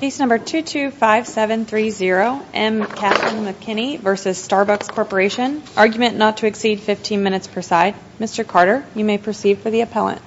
Case number 225730, M. Katherine McKinney v. Starbucks Corporation. Argument not to exceed 15 minutes per side. Mr. Carter, you may proceed for the appellant.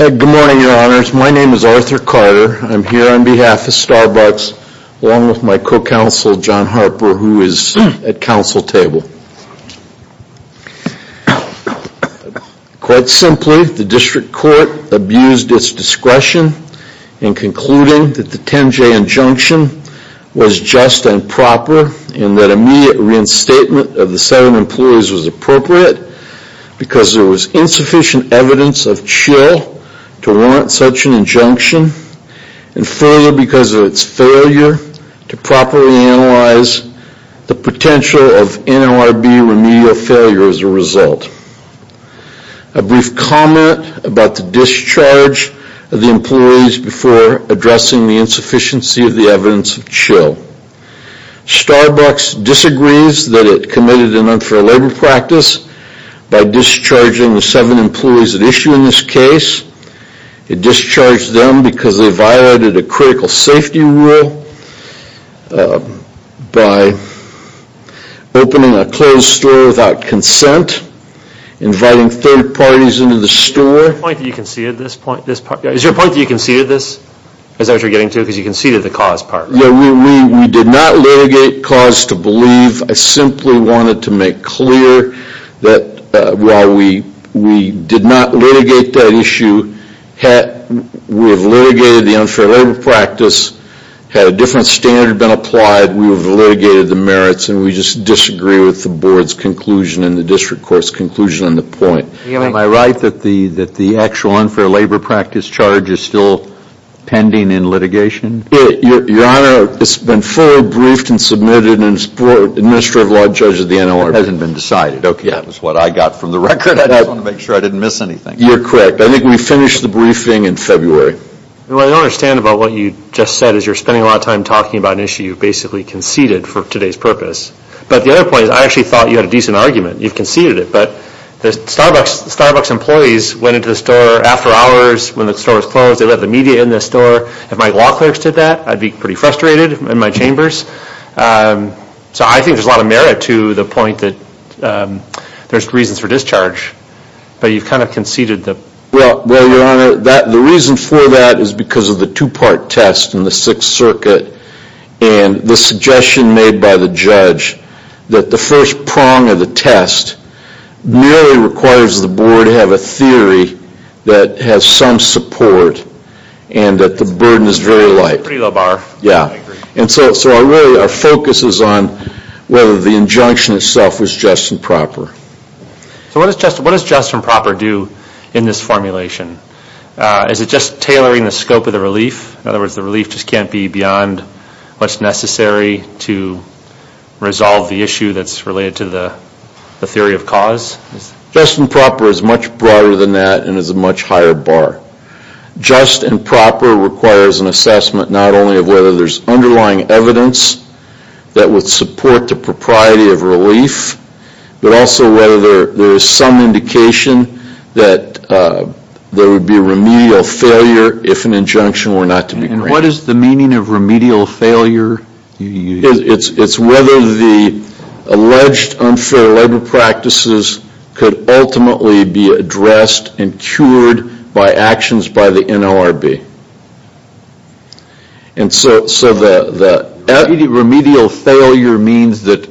Good morning, Your Honors. My name is Arthur Carter. I'm here on behalf of Starbucks along with my co-counsel, John Harper, who is at council table. Quite simply, the district court abused its discretion in concluding that the 10-J injunction was just and proper and that immediate reinstatement of the seven employees was appropriate because there was to properly analyze the potential of NLRB remedial failure as a result. A brief comment about the discharge of the employees before addressing the insufficiency of the evidence of chill. Starbucks disagrees that it committed an unfair labor practice by discharging the seven employees at issue in this case. It discharged them because they violated a critical safety rule by opening a closed store without consent, inviting third parties into the store. Is your point that you conceded this? Is that what you're getting to? Because you conceded the cause part. We did not litigate cause to believe. I simply wanted to make clear that while we did not litigate cause, had a different standard been applied, we have litigated the merits and we just disagree with the board's conclusion and the district court's conclusion on the point. Am I right that the actual unfair labor practice charge is still pending in litigation? Your Honor, it's been fully briefed and submitted and the Minister of Law and Judge of the NLRB hasn't been decided. Okay, that was what I got from the record. I just wanted to make sure I didn't miss anything. You're correct. I think we finished the briefing in February. What I don't understand about what you just said is you're spending a lot of time talking about an issue you basically conceded for today's purpose. But the other point is I actually thought you had a decent argument. You've conceded it. But the Starbucks employees went into the store after hours when the store was closed. They let the media in the store. If my law clerks did that, I'd be pretty frustrated in my chambers. So I think there's a lot of merit to the point that there's reasons for discharge. But you've kind of conceded the point. Well, Your Honor, the reason for that is because of the two-part test in the Sixth Circuit and the suggestion made by the judge that the first prong of the test merely requires the board to have a theory that has some support and that the burden is very light. Pretty low bar. Yeah. And so our focus is on whether the injunction itself was just and proper. So what does just and proper do in this formulation? Is it just tailoring the scope of the relief? In other words, the relief just can't be beyond what's necessary to resolve the issue that's related to the theory of cause? Just and proper is much broader than that and is a much higher bar. Just and proper requires an assessment not only of whether there's underlying evidence that would support the propriety of relief, but also whether there is some indication that there would be remedial failure if an injunction were not to be granted. And what is the meaning of remedial failure? It's whether the alleged unfair labor practices could ultimately be addressed and cured by actions by the NLRB. And so the remedial failure means that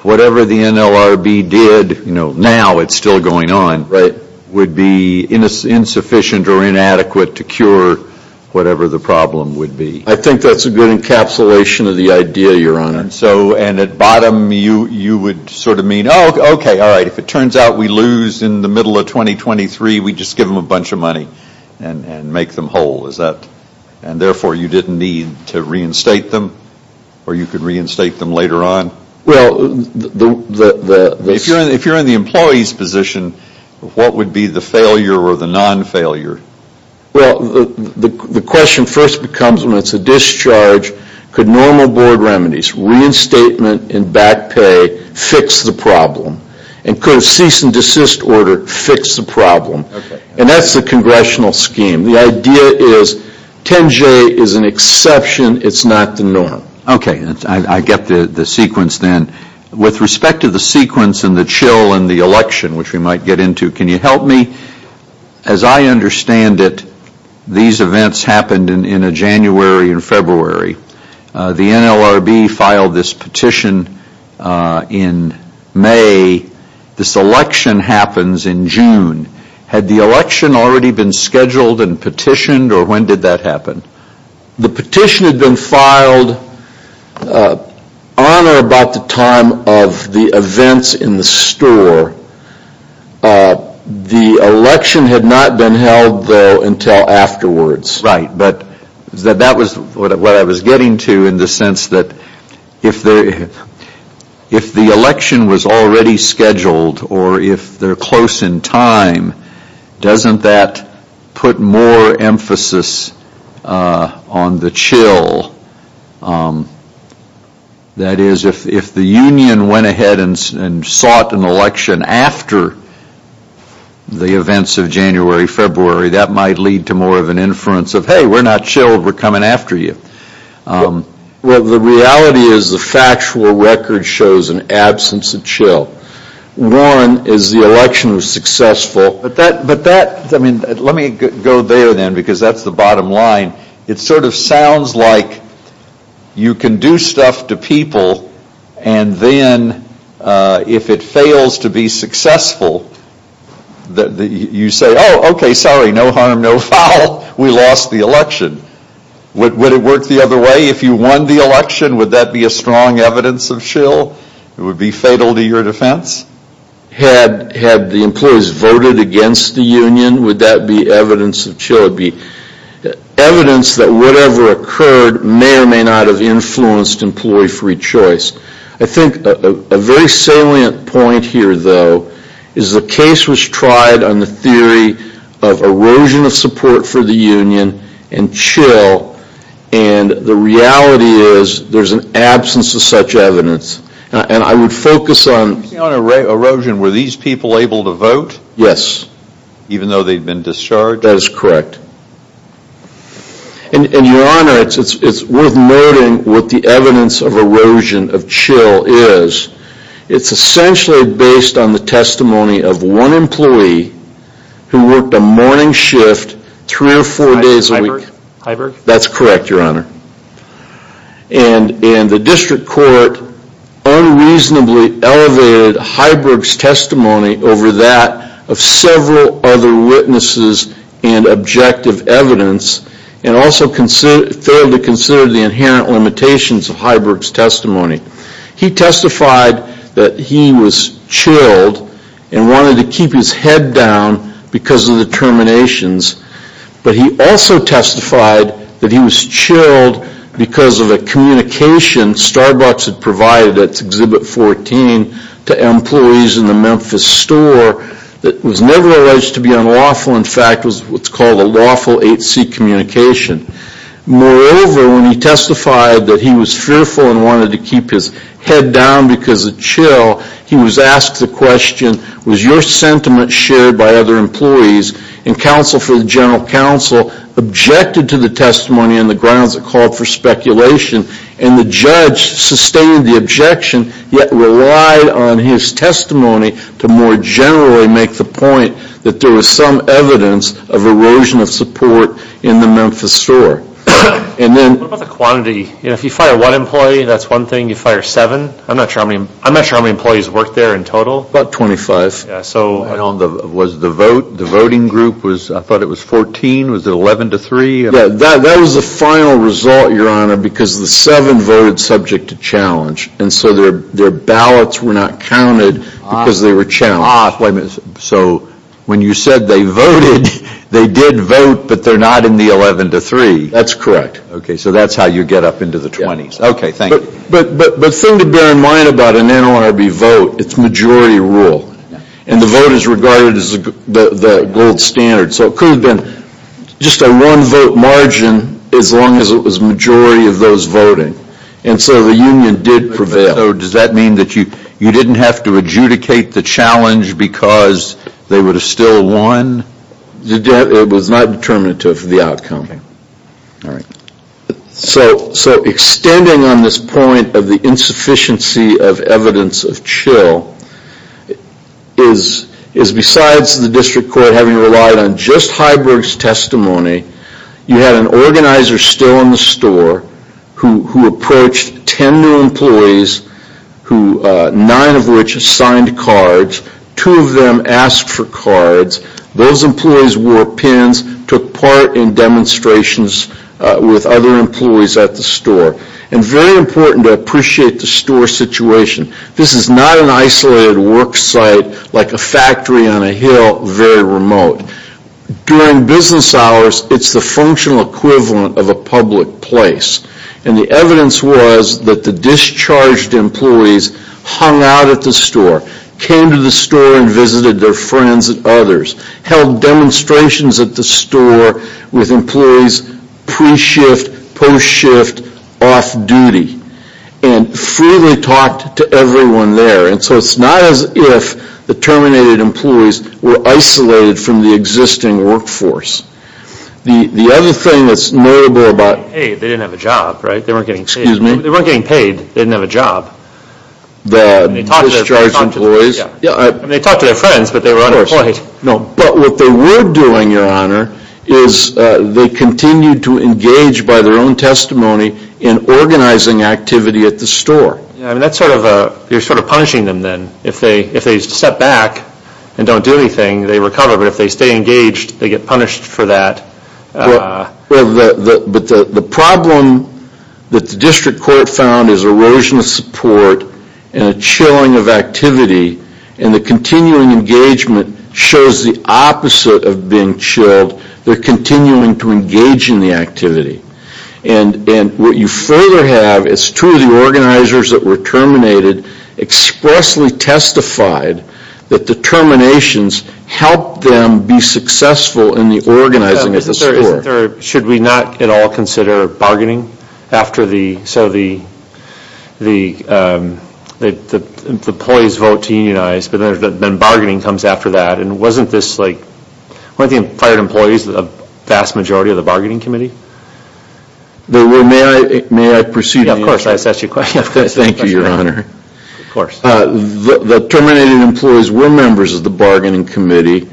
whatever the NLRB did, you know, now it's still going on, would be insufficient or inadequate to cure whatever the problem would be? I think that's a good encapsulation of the idea, Your Honor. So and at bottom you would sort of mean, oh, okay, all right, if it turns out we lose in the middle of 2023, we just give them a bunch of money and make them whole, is that? And therefore, you didn't need to reinstate them or you could reinstate them later on? Well, the If you're in the employee's position, what would be the failure or the non-failure? Well, the question first becomes when it's a discharge, could normal board remedies, reinstatement and back pay fix the problem? And could a cease and desist order fix the problem? And that's the congressional scheme. The idea is 10J is an exception, it's not the norm. Okay, I get the sequence then. With respect to the sequence and the chill and the election, which we might get into, can you help me? As I understand it, these events happened in a January and February. The NLRB filed this petition in May. This election happens in June. Had the election already been scheduled and petitioned or when did that happen? The petition had been filed on or about the time of the events in the store. The election had not been held, though, until afterwards. Right. But that was what I was getting to in the sense that if the election was already scheduled or if they're close in time, doesn't that put more emphasis on the chill? That is, if the union went ahead and sought an election after the events of January, February, that might lead to more of an inference of, hey, we're not chilled, we're coming after you. The reality is the factual record shows an absence of chill. One is the election was successful, but that, I mean, let me go there then because that's the bottom line. It sort of sounds like you can do stuff to people and then if it fails to be successful, you say, oh, okay, sorry, no harm, no foul, we lost the election. Would it work the other way? If you won the election, would that be a strong evidence of chill? It would be fatal to your defense? Had the employees voted against the union, would that be evidence of chill? It would be evidence that whatever occurred may or may not have influenced employee free choice. I think a very salient point here, though, is the case was tried on the theory of erosion of support for the union and chill, and the reality is there's an absence of such evidence, and I would focus on... On erosion, were these people able to vote? Yes. Even though they'd been discharged? That is correct. And, Your Honor, it's worth noting what the evidence of erosion of chill is. It's essentially based on the testimony of one employee who worked a morning shift three Hybrig? That's correct, Your Honor. And the district court unreasonably elevated Hybrig's testimony over that of several other objective evidence, and also failed to consider the inherent limitations of Hybrig's testimony. He testified that he was chilled and wanted to keep his head down because of the terminations, but he also testified that he was chilled because of a communication Starbucks had provided at Exhibit 14 to employees in the Memphis store that was never alleged to be unlawful. In fact, it was what's called a lawful 8C communication. Moreover, when he testified that he was fearful and wanted to keep his head down because of chill, he was asked the question, was your sentiment shared by other employees? And counsel for the general counsel objected to the testimony on the grounds it called for speculation, and the judge sustained the objection, yet relied on his testimony to more generally make the point that there was some evidence of erosion of support in the Memphis store. And then... What about the quantity? You know, if you fire one employee, that's one thing. You fire seven? I'm not sure how many employees worked there in total. About 25. Yeah, so... And on the, was the vote, the voting group was, I thought it was 14, was it 11 to 3? Yeah, that was the final result, Your Honor, because the seven voted subject to challenge, and so their ballots were not counted because they were challenged. So when you said they voted, they did vote, but they're not in the 11 to 3. That's correct. Okay, so that's how you get up into the 20s. Okay, thank you. But the thing to bear in mind about an NLRB vote, it's majority rule, and the vote is regarded as the gold standard. So it could have been just a one vote margin as long as it was majority of those voting. And so the union did prevail. Does that mean that you didn't have to adjudicate the challenge because they would have still won? It was not determinative of the outcome. Okay. All right. So extending on this point of the insufficiency of evidence of chill, is besides the district court having relied on just Heiberg's testimony, you had an organizer still in the store who approached 10 new employees, 9 of which signed cards, 2 of them asked for cards, those employees wore pins, took part in demonstrations with other employees at the store. And very important to appreciate the store situation. This is not an isolated work site like a factory on a hill very remote. During business hours, it's the functional equivalent of a public place. And the evidence was that the discharged employees hung out at the store, came to the store and visited their friends and others, held demonstrations at the store with employees pre-shift, post-shift, off-duty, and freely talked to everyone there. And so it's not as if the terminated employees were isolated from the existing workforce. The other thing that's notable about... Hey, they didn't have a job, right? They weren't getting paid. They weren't getting paid. They didn't have a job. The discharged employees? Yeah. I mean, they talked to their friends, but they were unemployed. Of course. No. But what they were doing, Your Honor, is they continued to engage by their own testimony in organizing activity at the store. Yeah. I mean, that's sort of a... You're sort of punishing them then. If they step back and don't do anything, they recover. But if they stay engaged, they get punished for that. Well, the problem that the district court found is erosion of support and a chilling of activity, and the continuing engagement shows the opposite of being chilled. They're continuing to engage in the activity. And what you further have is two of the organizers that were terminated expressly testified that the terminations helped them be successful in the organizing at the store. Should we not at all consider bargaining after the... So the employees vote to unionize, but then bargaining comes after that. And wasn't this like... Weren't the fired employees the vast majority of the bargaining committee? May I proceed? Yeah, of course. I assessed your question. Thank you, Your Honor. Of course. The terminated employees were members of the bargaining committee,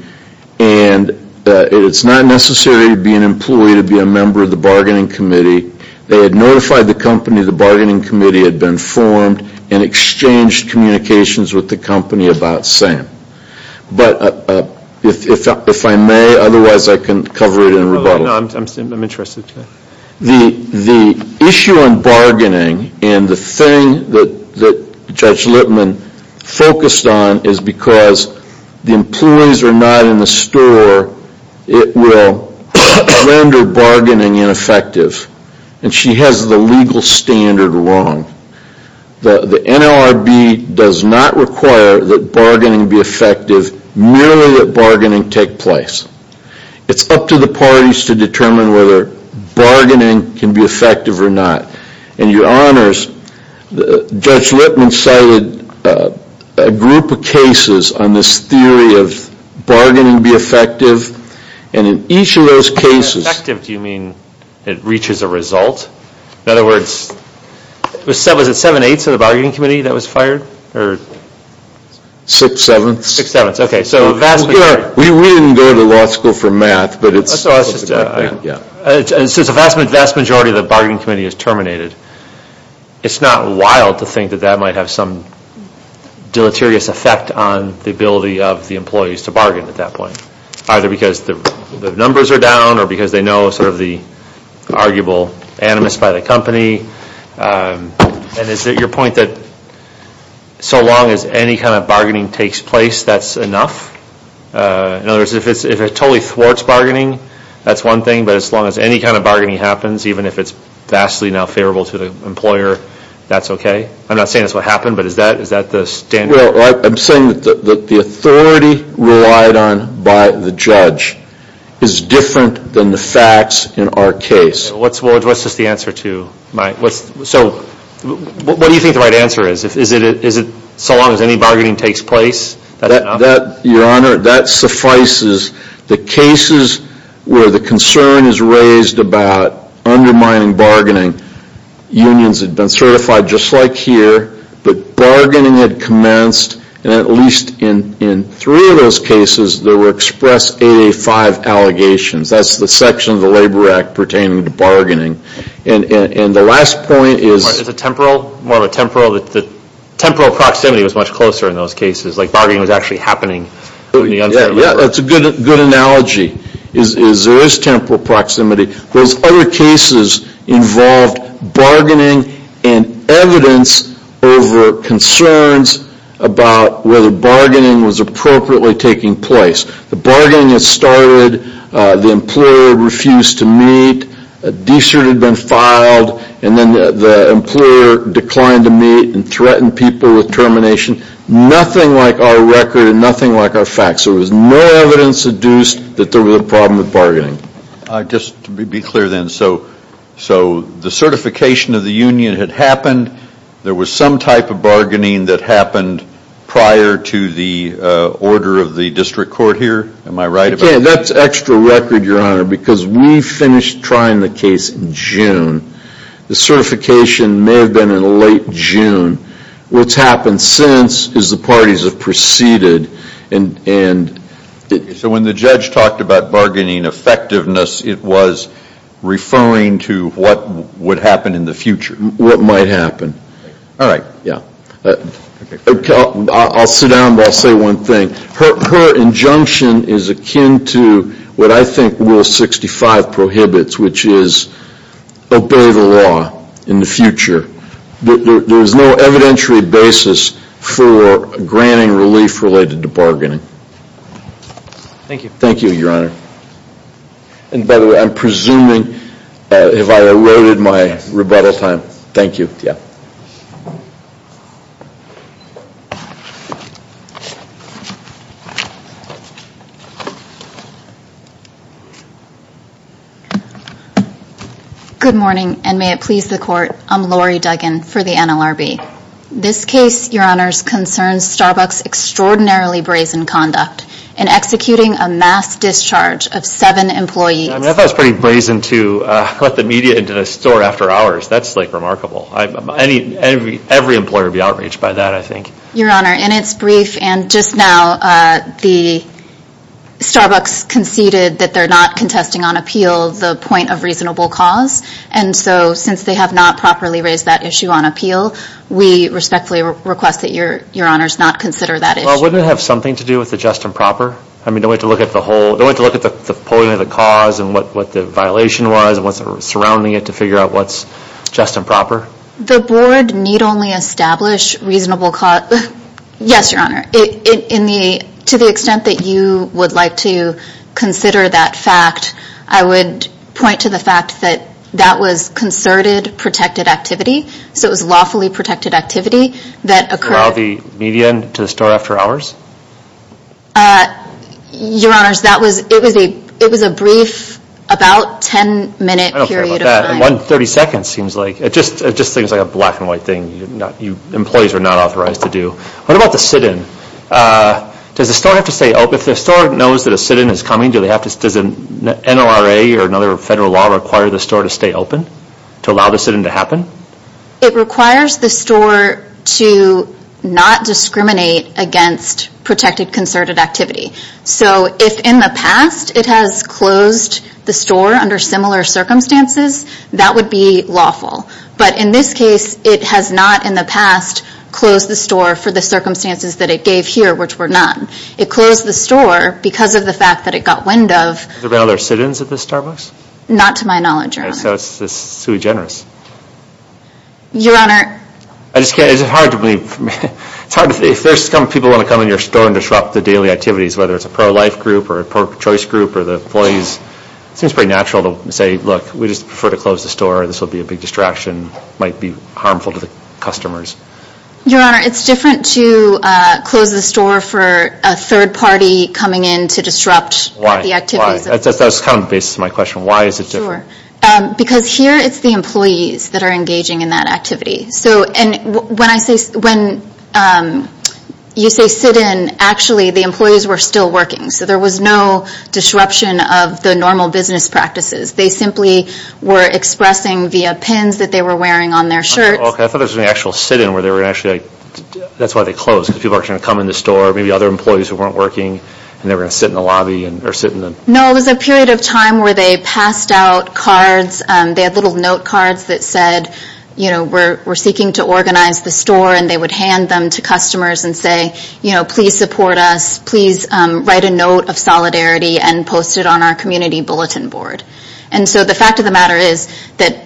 and it's not necessary to be an employee to be a member of the bargaining committee. They had notified the company the bargaining committee had been formed and exchanged communications with the company about Sam. But if I may, otherwise I can cover it in rebuttal. No, I'm interested to... The issue in bargaining and the thing that Judge Lippman focused on is because the employees are not in the store, it will render bargaining ineffective. And she has the legal standard wrong. The NLRB does not require that bargaining be effective merely that bargaining take place. It's up to the parties to determine whether bargaining can be effective or not. And Your Honors, Judge Lippman cited a group of cases on this theory of bargaining be effective. And in each of those cases... By effective, do you mean it reaches a result? In other words, was it seven-eighths of the bargaining committee that was fired? Or... Six-sevenths. Six-sevenths. Okay. So a vast majority... We didn't go to law school for math, but it's... So it's just a vast majority of the bargaining committee is terminated. It's not wild to think that that might have some deleterious effect on the ability of the employees to bargain at that point. Either because the numbers are down or because they know sort of the arguable animus by the company. And is it your point that so long as any kind of bargaining takes place, that's enough? In other words, if it totally thwarts bargaining, that's one thing. But as long as any kind of bargaining happens, even if it's vastly not favorable to the employer, that's okay? I'm not saying that's what happened, but is that the standard? Well, I'm saying that the authority relied on by the judge is different than the facts in our case. Okay. So what's the answer to? So what do you think the right answer is? Is it so long as any bargaining takes place, that's enough? Your Honor, that suffices. The cases where the concern is raised about undermining bargaining, unions have been certified just like here, but bargaining had commenced, and at least in three of those cases, there were expressed 8A-5 allegations. That's the section of the Labor Act pertaining to bargaining. And the last point is... Is it temporal? More of a temporal? The temporal proximity was much closer in those cases, like bargaining was actually happening. Yeah, that's a good analogy, is there is temporal proximity. Those other cases involved bargaining and evidence over concerns about whether bargaining was appropriately taking place. The bargaining had started, the employer refused to meet, a de-cert had been filed, and then the employer declined to meet and threatened people with termination. Nothing like our record and nothing like our facts. There was no evidence induced that there was a problem with bargaining. Just to be clear then, so the certification of the union had happened, there was some type of bargaining that happened prior to the order of the district court here, am I right about that? Again, that's extra record, your honor, because we finished trying the case in June. The certification may have been in late June. What's happened since is the parties have proceeded and... So when the judge talked about bargaining effectiveness, it was referring to what would happen in the future. What might happen. All right. Yeah. I'll sit down, but I'll say one thing. Her injunction is akin to what I think Rule 65 prohibits, which is obey the law in the future. There is no evidentiary basis for granting relief related to bargaining. Thank you. Thank you, your honor. And by the way, I'm presuming if I eroded my rebuttal time. Thank you. Yeah. Good morning, and may it please the court. I'm Lori Duggan for the NLRB. This case, your honors, concerns Starbucks' extraordinarily brazen conduct in executing a mass discharge of seven employees. I mean, I thought it was pretty brazen to let the media into the store after hours. That's remarkable. Every employer would be outraged by that, I think. Your honor, in its brief and just now, the Starbucks conceded that they're not contesting on appeal the point of reasonable cause. And so since they have not properly raised that issue on appeal, we respectfully request that your honors not consider that issue. Well, wouldn't it have something to do with the just and proper? I mean, don't we have to look at the whole... Don't we have to look at the point of the cause and what the violation was and what's just and proper? The board need only establish reasonable cause... Yes, your honor. To the extent that you would like to consider that fact, I would point to the fact that that was concerted protected activity. So it was lawfully protected activity that occurred... Allow the media to store after hours? Your honors, it was a brief, about 10 minute period of time. I don't care about that. One 30 seconds seems like... It just seems like a black and white thing. Employees are not authorized to do. What about the sit-in? Does the store have to stay open? If the store knows that a sit-in is coming, does an NLRA or another federal law require the store to stay open to allow the sit-in to happen? It requires the store to not discriminate against protected concerted activity. So if in the past it has closed the store under similar circumstances, that would be lawful. But in this case, it has not in the past closed the store for the circumstances that it gave here, which were none. It closed the store because of the fact that it got wind of... Is there any other sit-ins at this Starbucks? Not to my knowledge, your honor. So it's sui generis. Your honor... I just can't... It's hard to believe... It's hard to... If people want to come in your store and disrupt the daily activities, whether it's a pro-life group or a pro-choice group or the employees, it seems pretty natural to say, look, we just prefer to close the store. This will be a big distraction. It might be harmful to the customers. Your honor, it's different to close the store for a third party coming in to disrupt the activities. Why? That's kind of the basis of my question. Why is it different? Because here it's the employees that are engaging in that activity. So when you say sit-in, actually the employees were still working. So there was no disruption of the normal business practices. They simply were expressing via pins that they were wearing on their shirts. Okay. I thought there was an actual sit-in where they were actually... That's why they closed. Because people were trying to come in the store, maybe other employees who weren't working, and they were going to sit in the lobby or sit in the... No, it was a period of time where they passed out cards. They had little note cards that said, you know, we're seeking to organize the store, and they would hand them to customers and say, you know, please support us. Please write a note of solidarity and post it on our community bulletin board. And so the fact of the matter is that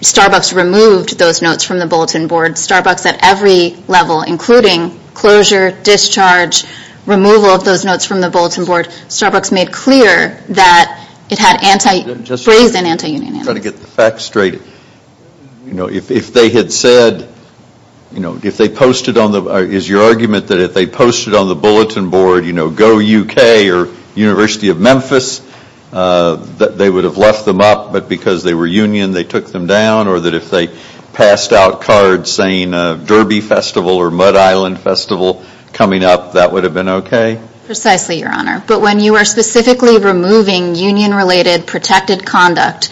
Starbucks removed those notes from the bulletin board. Starbucks at every level, including closure, discharge, removal of those notes from the I'm trying to get the facts straight. You know, if they had said, you know, if they posted on the... Is your argument that if they posted on the bulletin board, you know, Go UK or University of Memphis, that they would have left them up, but because they were union, they took them down? Or that if they passed out cards saying Derby Festival or Mud Island Festival coming up, that would have been okay? Precisely, Your Honor. But when you are specifically removing union-related protected conduct,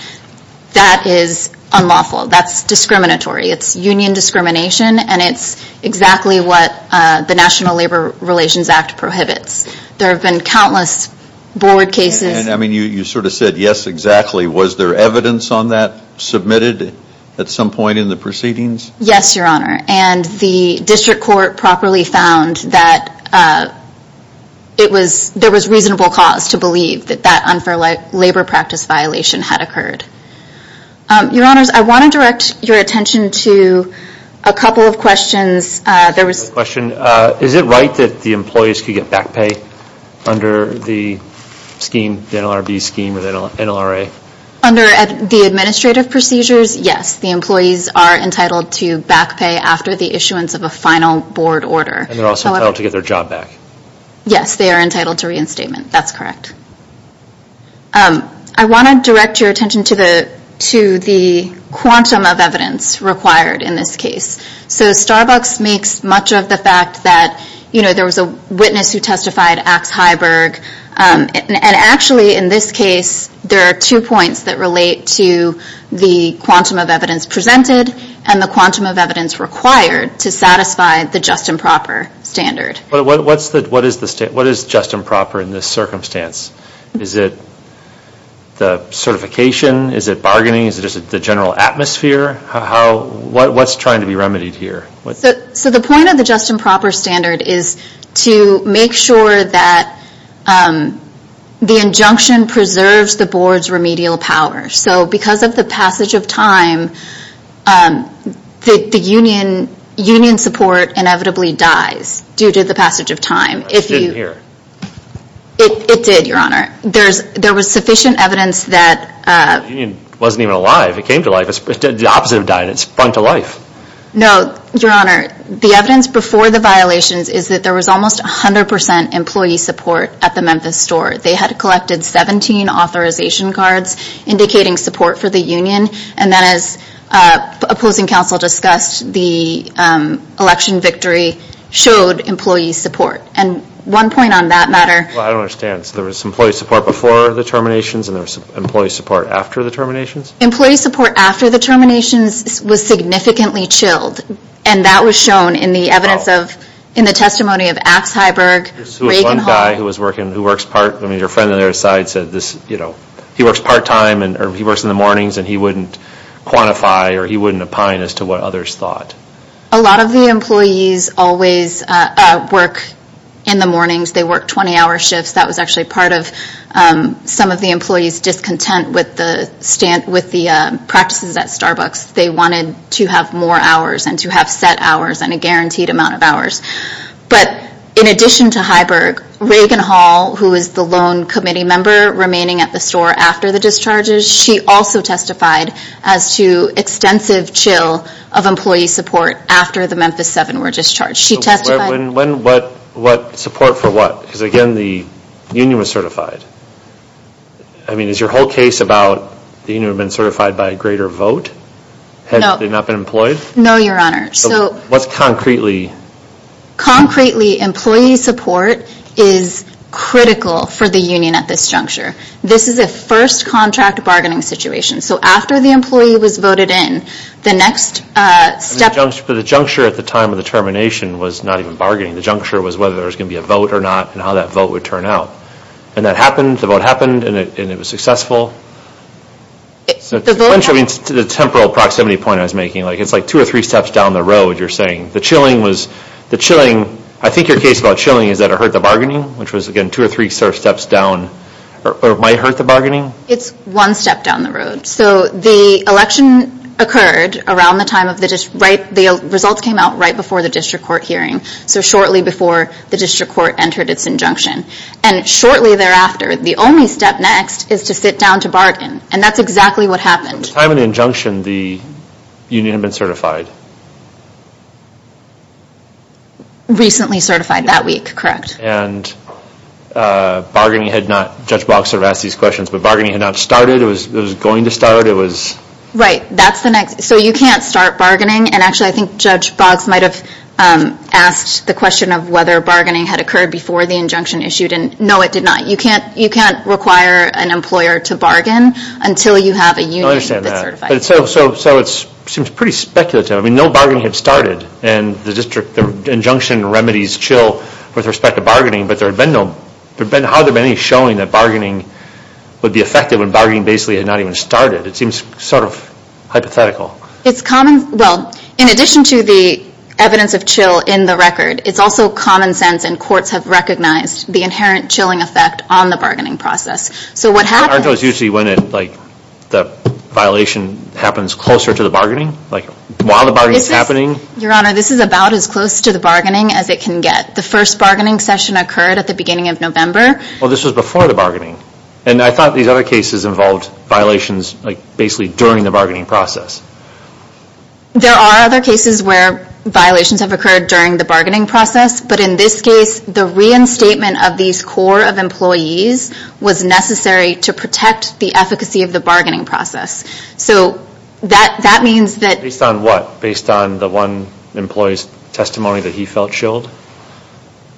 that is unlawful. That's discriminatory. It's union discrimination, and it's exactly what the National Labor Relations Act prohibits. There have been countless board cases... And I mean, you sort of said, yes, exactly. Was there evidence on that submitted at some point in the proceedings? Yes, Your Honor. And the district court properly found that there was reasonable cause to believe that that unfair labor practice violation had occurred. Your Honors, I want to direct your attention to a couple of questions. I have a question. Is it right that the employees could get back pay under the scheme, the NLRB scheme or the NLRA? Under the administrative procedures, yes. The employees are entitled to back pay after the issuance of a final board order. And they're also entitled to get their job back. Yes, they are entitled to reinstatement. That's correct. I want to direct your attention to the quantum of evidence required in this case. So Starbucks makes much of the fact that there was a witness who testified, Axe Heiberg. And actually, in this case, there are two points that relate to the quantum of evidence presented and the quantum of evidence required to satisfy the just and proper standard. What is just and proper in this circumstance? Is it the certification? Is it bargaining? Is it just the general atmosphere? What's trying to be remedied here? So the point of the just and proper standard is to make sure that the injunction preserves the board's remedial power. So because of the passage of time, the union support inevitably dies due to the passage of time. I didn't hear. It did, Your Honor. There was sufficient evidence that... The union wasn't even alive. It came to life. The opposite of dying. It sprung to life. No, Your Honor. The evidence before the violations is that there was almost 100% employee support at the Memphis store. They had collected 17 authorization cards indicating support for the union. And then as opposing counsel discussed, the election victory showed employee support. And one point on that matter... Well, I don't understand. So there was employee support before the terminations and there was employee support after the terminations? Employee support after the terminations was significantly chilled. And that was shown in the evidence of... Wow. In the testimony of Axe Heiberg, Reagan Hall... There was one guy who was working, who works part... I mean, a friend on their side said this, you know, he works part-time or he works in the mornings and he wouldn't quantify or he wouldn't opine as to what others thought. A lot of the employees always work in the mornings. They work 20-hour shifts. That was actually part of some of the employees' discontent with the practices at Starbucks. They wanted to have more hours and to have set hours and a guaranteed amount of hours. But in addition to Heiberg, Reagan Hall, who is the lone committee member remaining at the store after the discharges, she also testified as to extensive chill of employee support after the Memphis 7 were discharged. She testified... When, what, support for what? Because again, the union was certified. I mean, is your whole case about the union being certified by a greater vote? No. Had they not been employed? No, Your Honor. So, what's concretely... Concretely, employee support is critical for the union at this juncture. This is a first contract bargaining situation. So, after the employee was voted in, the next step... But the juncture at the time of the termination was not even bargaining. The juncture was whether there was going to be a vote or not and how that vote would turn out. And that happened, the vote happened, and it was successful. The vote happened... To the temporal proximity point I was making, it's like two or three steps down the road, you're saying. The chilling was... The chilling... I think your case about chilling is that it hurt the bargaining, which was, again, two or three steps down or might hurt the bargaining. It's one step down the road. So, the election occurred around the time of the... The results came out right before the district court hearing. So, shortly before the district court entered its injunction. And shortly thereafter, the only step next is to sit down to bargain. And that's exactly what happened. At the time of the injunction, the union had been certified. Recently certified, that week, correct. And bargaining had not... Judge Boggs sort of asked these questions, but bargaining had not started. It was going to start. It was... Right, that's the next... So, you can't start bargaining. And actually, I think Judge Boggs might have asked the question of whether bargaining had occurred before the injunction issued. And no, it did not. You can't require an employer to bargain until you have a union that's certified. I understand that. So, it seems pretty speculative. I mean, no bargaining had started. And the district... The injunction remedies CHIL with respect to bargaining, but there had been no... How have there been any showing that bargaining would be effective when bargaining basically had not even started? It seems sort of hypothetical. It's common... Well, in addition to the evidence of CHIL in the record, it's also common sense and courts have recognized the inherent chilling effect on the bargaining process. So, what happened... Aren't those usually when the violation happens closer to the bargaining? Like, while the bargaining is happening? Your Honor, this is about as close to the bargaining as it can get. The first bargaining session occurred at the beginning of November. Well, this was before the bargaining. And I thought these other cases involved violations basically during the bargaining process. There are other cases where violations have occurred during the bargaining process, but in this case, the reinstatement of these core of employees was necessary to protect the efficacy of the bargaining process. So, that means that... Based on what? Based on the one employee's testimony that he felt chilled?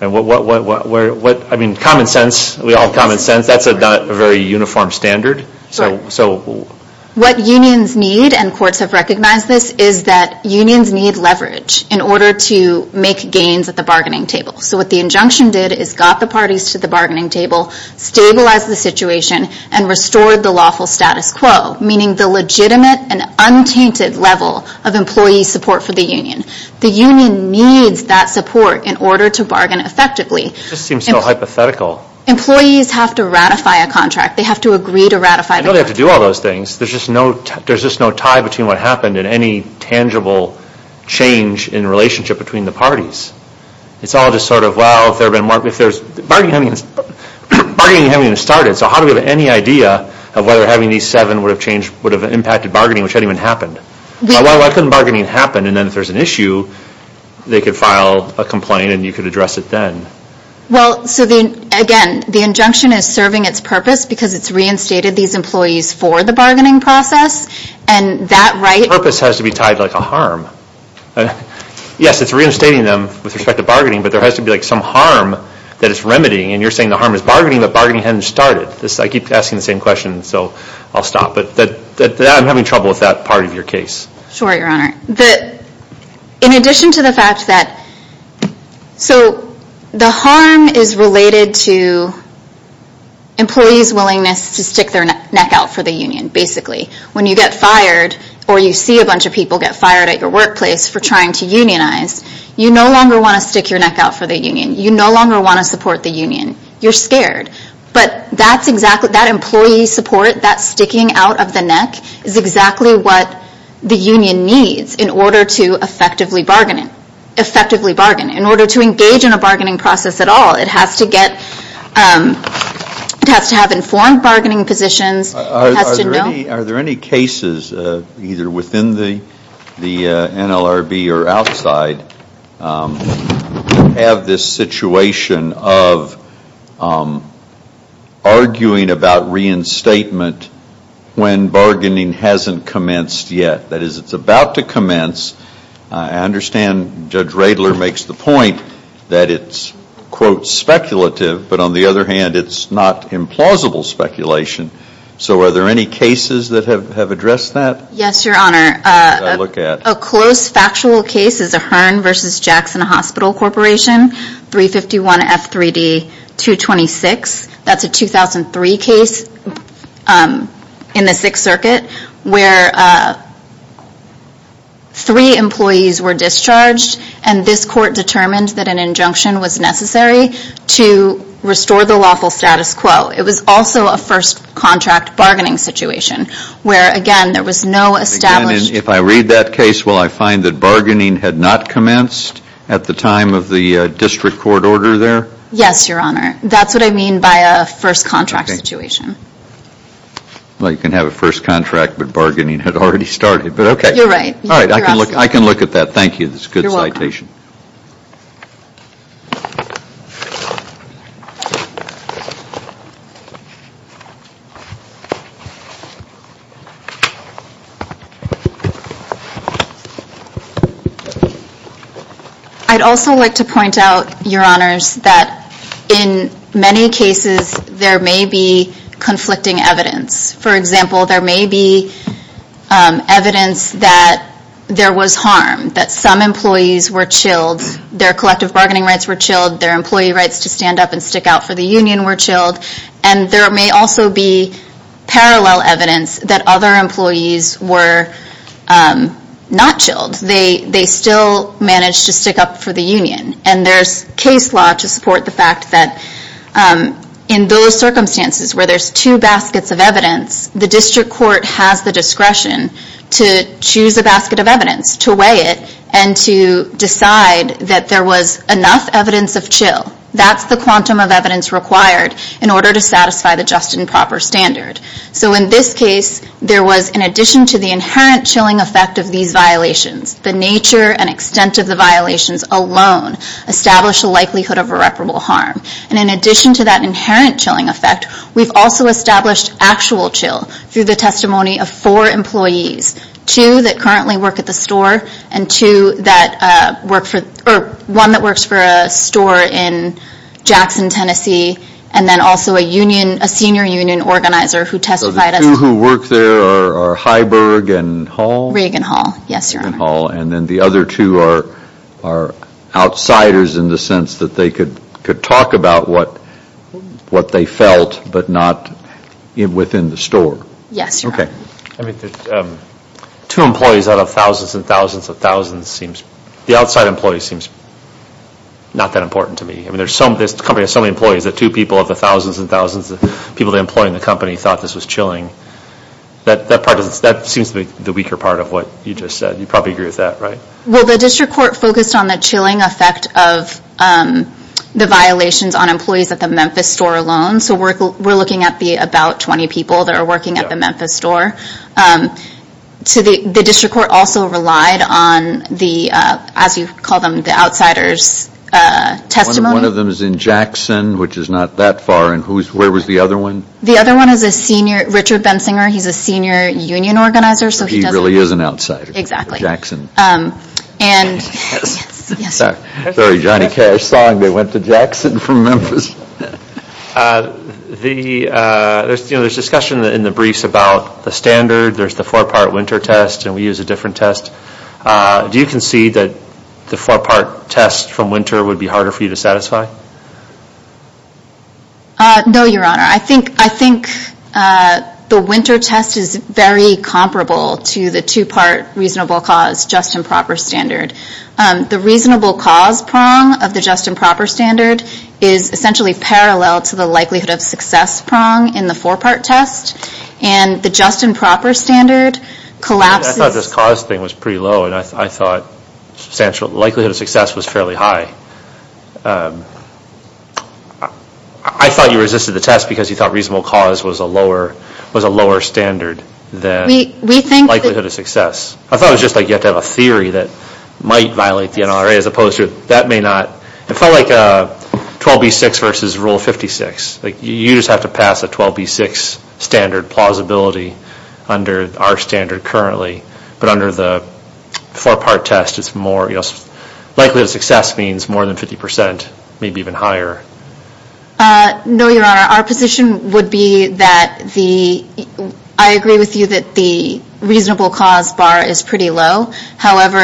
And what... I mean, common sense. We all have common sense. That's not a very uniform standard. So... What unions need, and courts have recognized this, is that unions need leverage in order to make gains at the bargaining table. So, what the injunction did is got the parties to the bargaining table, stabilized the situation, and restored the lawful status quo, meaning the legitimate and untainted level of employee support for the union. The union needs that support in order to bargain effectively. This seems so hypothetical. Employees have to ratify a contract. They have to agree to ratify the contract. They don't have to do all those things. There's just no... There's just no tie between what happened and any tangible change in relationship between the parties. It's all just sort of, well, if there's been more... If there's... Bargaining hasn't even started. So, how do we have any idea of whether having these seven would have changed... Would have impacted bargaining, which hadn't even happened? Why couldn't bargaining happen, and then if there's an issue, they could file a complaint and you could address it then? Well, so the... Again, the injunction is serving its purpose because it's reinstated these employees for the bargaining process, and that right... Purpose has to be tied to like a harm. Yes, it's reinstating them with respect to bargaining, but there has to be like some harm that it's remedying, and you're saying the harm is bargaining, but bargaining hasn't started. I keep asking the same question, so I'll stop, but that... I'm having trouble with that part of your case. Sure, Your Honor. The... In addition to the fact that... So, the harm is related to employees' willingness to stick their neck out for the union, basically. When you get fired or you see a bunch of people get fired at your workplace, for trying to unionize, you no longer want to stick your neck out for the union. You no longer want to support the union. You're scared, but that's exactly... That employee support, that sticking out of the neck, is exactly what the union needs in order to effectively bargain. Effectively bargain. In order to engage in a bargaining process at all, it has to get... It has to have informed bargaining positions. It has to know... Are there any... Are there any cases either within the... The NLRB or outside have this situation of arguing about reinstatement when bargaining hasn't commenced yet. That is, it's about to commence. I understand Judge Radler makes the point that it's quote speculative, but on the other hand, it's not implausible speculation. So, are there any cases that have addressed that? Yes, Your Honor. Look at... A close factual case is a Hearn v. Jackson Hospital Corporation 351 F3D 226. That's a 2003 case in the Sixth Circuit where three employees were discharged and this court determined that an injunction was necessary to restore the lawful status quo. It was also a first contract bargaining situation where, again, there was no established... If I read that case will I find that bargaining had not commenced at the time of the district court order there? Yes, Your Honor. That's what I mean by a first contract situation. Well, you can have a first contract but bargaining had already started. You're right. I can look at that. Thank you. It's a good citation. You're welcome. I'd also like to point out Your Honors that in many cases there may be conflicting evidence. For example, there may be evidence that there was harm that some employees were chilled. Their collective bargaining rights were chilled. Their employee rights to stand up and stick out for the union were chilled. And there may also be parallel evidence that other employees were not chilled. They still managed to stick up for the union. And there's case law to support the fact that in those circumstances where there's two baskets of evidence the district court has the discretion to choose a basket of evidence to weigh it and to decide that there was enough evidence of chill that's the quantum of evidence required in order to satisfy the just and proper standard. So in this case there was in addition to the inherent chilling of had the discretion to weigh it and decide that there was enough evidence that there was enough evidence to wait at that the to decide that there was enough evidence to decide that there was enough evidence to decide that the judge should decide that they were not quite ready enough enough evidence decide that there was enough evidence to call the four-part test from winter would be harder for you to satisfy? No, Your Honor. I think the winter test is very comparable to the two-part reasonable cause just improper standard. The reasonable cause prong of the just improper standard is essentially parallel to the likelihood of success prong in the four-part test and the just improper standard collapses... I thought this cause thing was pretty low and I thought the likelihood of success was fairly high. I thought you resisted the test because you thought reasonable cause was a lower standard than the likelihood of success. I thought it was just like you have to have a theory that might violate the NRA as opposed to that may not. It felt like 12B6 versus Rule 56. You just have to pass a 12B6 standard plausibility under our standard currently. But under the four-part test, it's more... likelihood of success means more than 50%, maybe even higher. No, Your Honor. Our position would be that the... I agree with you that the reasonable cause bar is pretty low. However,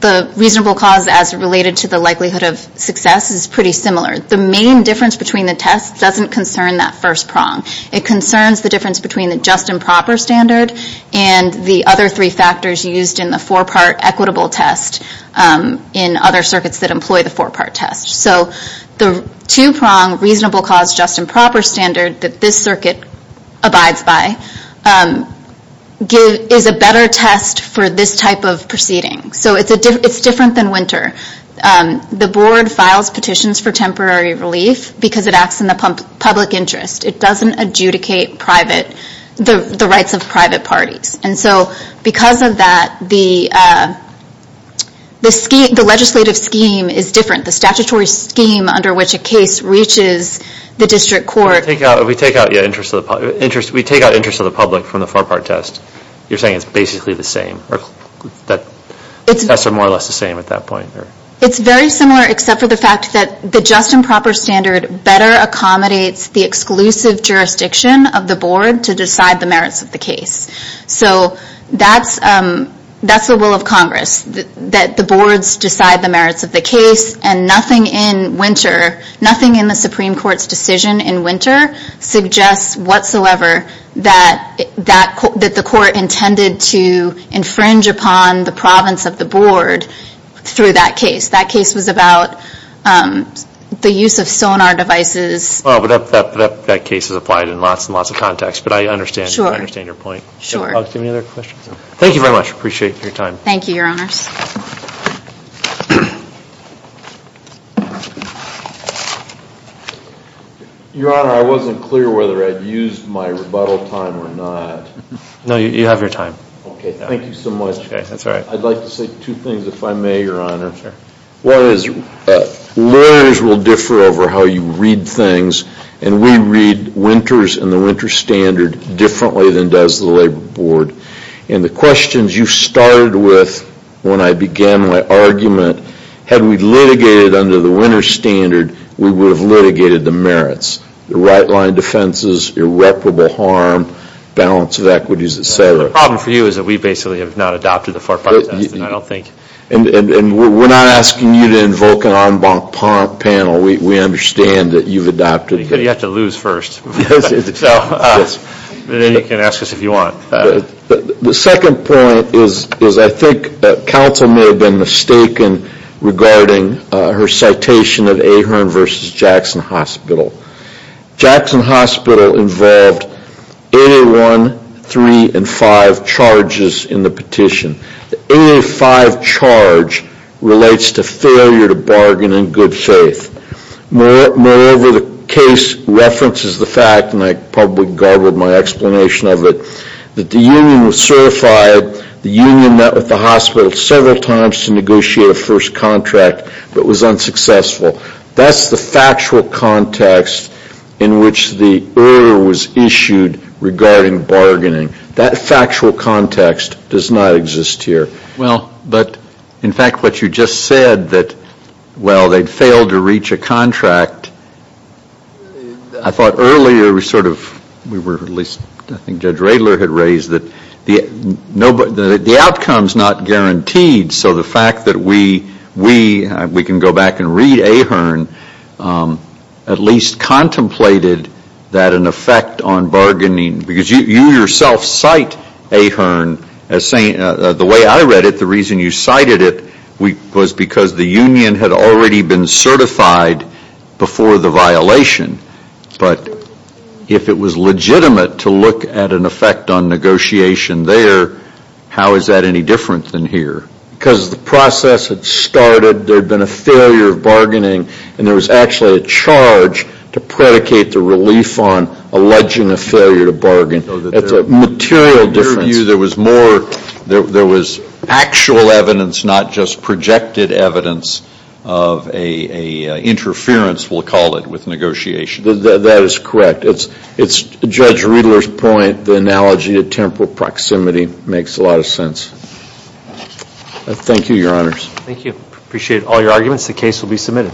the reasonable cause as related to the likelihood of success is pretty similar. The main difference between the tests doesn't concern that first prong. It concerns the difference between the just improper standard and the other three factors used in the four-part equitable test in other circuits that employ the four-part test. The two-prong reasonable cause just improper standard that this circuit abides by is a better test for this type of proceeding. It's different than winter. The board files petitions for temporary relief because it acts in the public interest. It doesn't adjudicate the rights of private parties. Because of that, the legislative scheme is different. The statutory scheme under which a case reaches the district court... We take out interest of the public from the four-part test. You're saying it's basically the same. The tests are more or less the same at that point. It's very similar except for the fact that the just improper standard better accommodates the exclusive jurisdiction of the board to decide the merits of the case. That's the will of Congress. That the boards decide the merits of the case and nothing in the Supreme Court's decision in winter suggests whatsoever that the court intended to infringe upon the province of the board through that case. That case was about the use of sonar devices. That case is applied in lots and lots of contexts, but I understand your point. Thank you very much. I appreciate your time. Thank you, Your Honors. Your Honor, I wasn't clear whether I'd use my rebuttal time or not. No, you have your time. Thank you so much. I'd like to say two things if I may, Your Honor. One is lawyers will differ over how you read things, and we read winters and the winter standard differently than does the labor board. And the questions you started with when I began my argument, had we litigated under the winter standard, we would have litigated the merits. The right-line defenses, irreparable harm, balance of equities, et cetera. The problem for you is that we basically have not adopted the four-part test and I don't think... And we're not asking you to invoke an en banc panel. We understand that you've adopted... You have to lose first. Yes. Then you can ask us if you want. The second point is I think counsel may have been mistaken regarding her citation of Ahearn v. Jackson Hospital. Jackson Hospital involved 8A1, 3, and 5 charges in the petition. The 8A5 charge relates to failure to bargain in good faith. Moreover, the case references the fact, and I probably garbled my explanation of it, that the union was certified, the union met with the hospital several times to negotiate a first contract but was unsuccessful. That's the factual context in which the error was issued regarding bargaining. That factual context does not exist here. Well, but in fact what you just said that, well, they'd failed to reach a contract, I thought earlier we sort of, we were at least, I think Judge Radler had raised that the outcome's not guaranteed, so the fact that we, we can go back and read Ahearn, at least contemplated that an effect on off-site Ahearn, the way I read it, the reason you cited it was because the union had already been certified before the violation, but if it was legitimate to look at an effect on negotiation there, how is that any different than here? Because the process had started, there'd been a failure of bargaining, and there was actually a charge to predicate the relief on alleging a failure to bargain. It's a material difference. In their view, there was more there was actual evidence, not just projected evidence of a interference, we'll call it, with negotiation. That is correct. It's Judge Radler's point the analogy of temporal proximity makes a lot of sense. Thank you, Your Honors. Thank you. Appreciate all your arguments. The case will be submitted.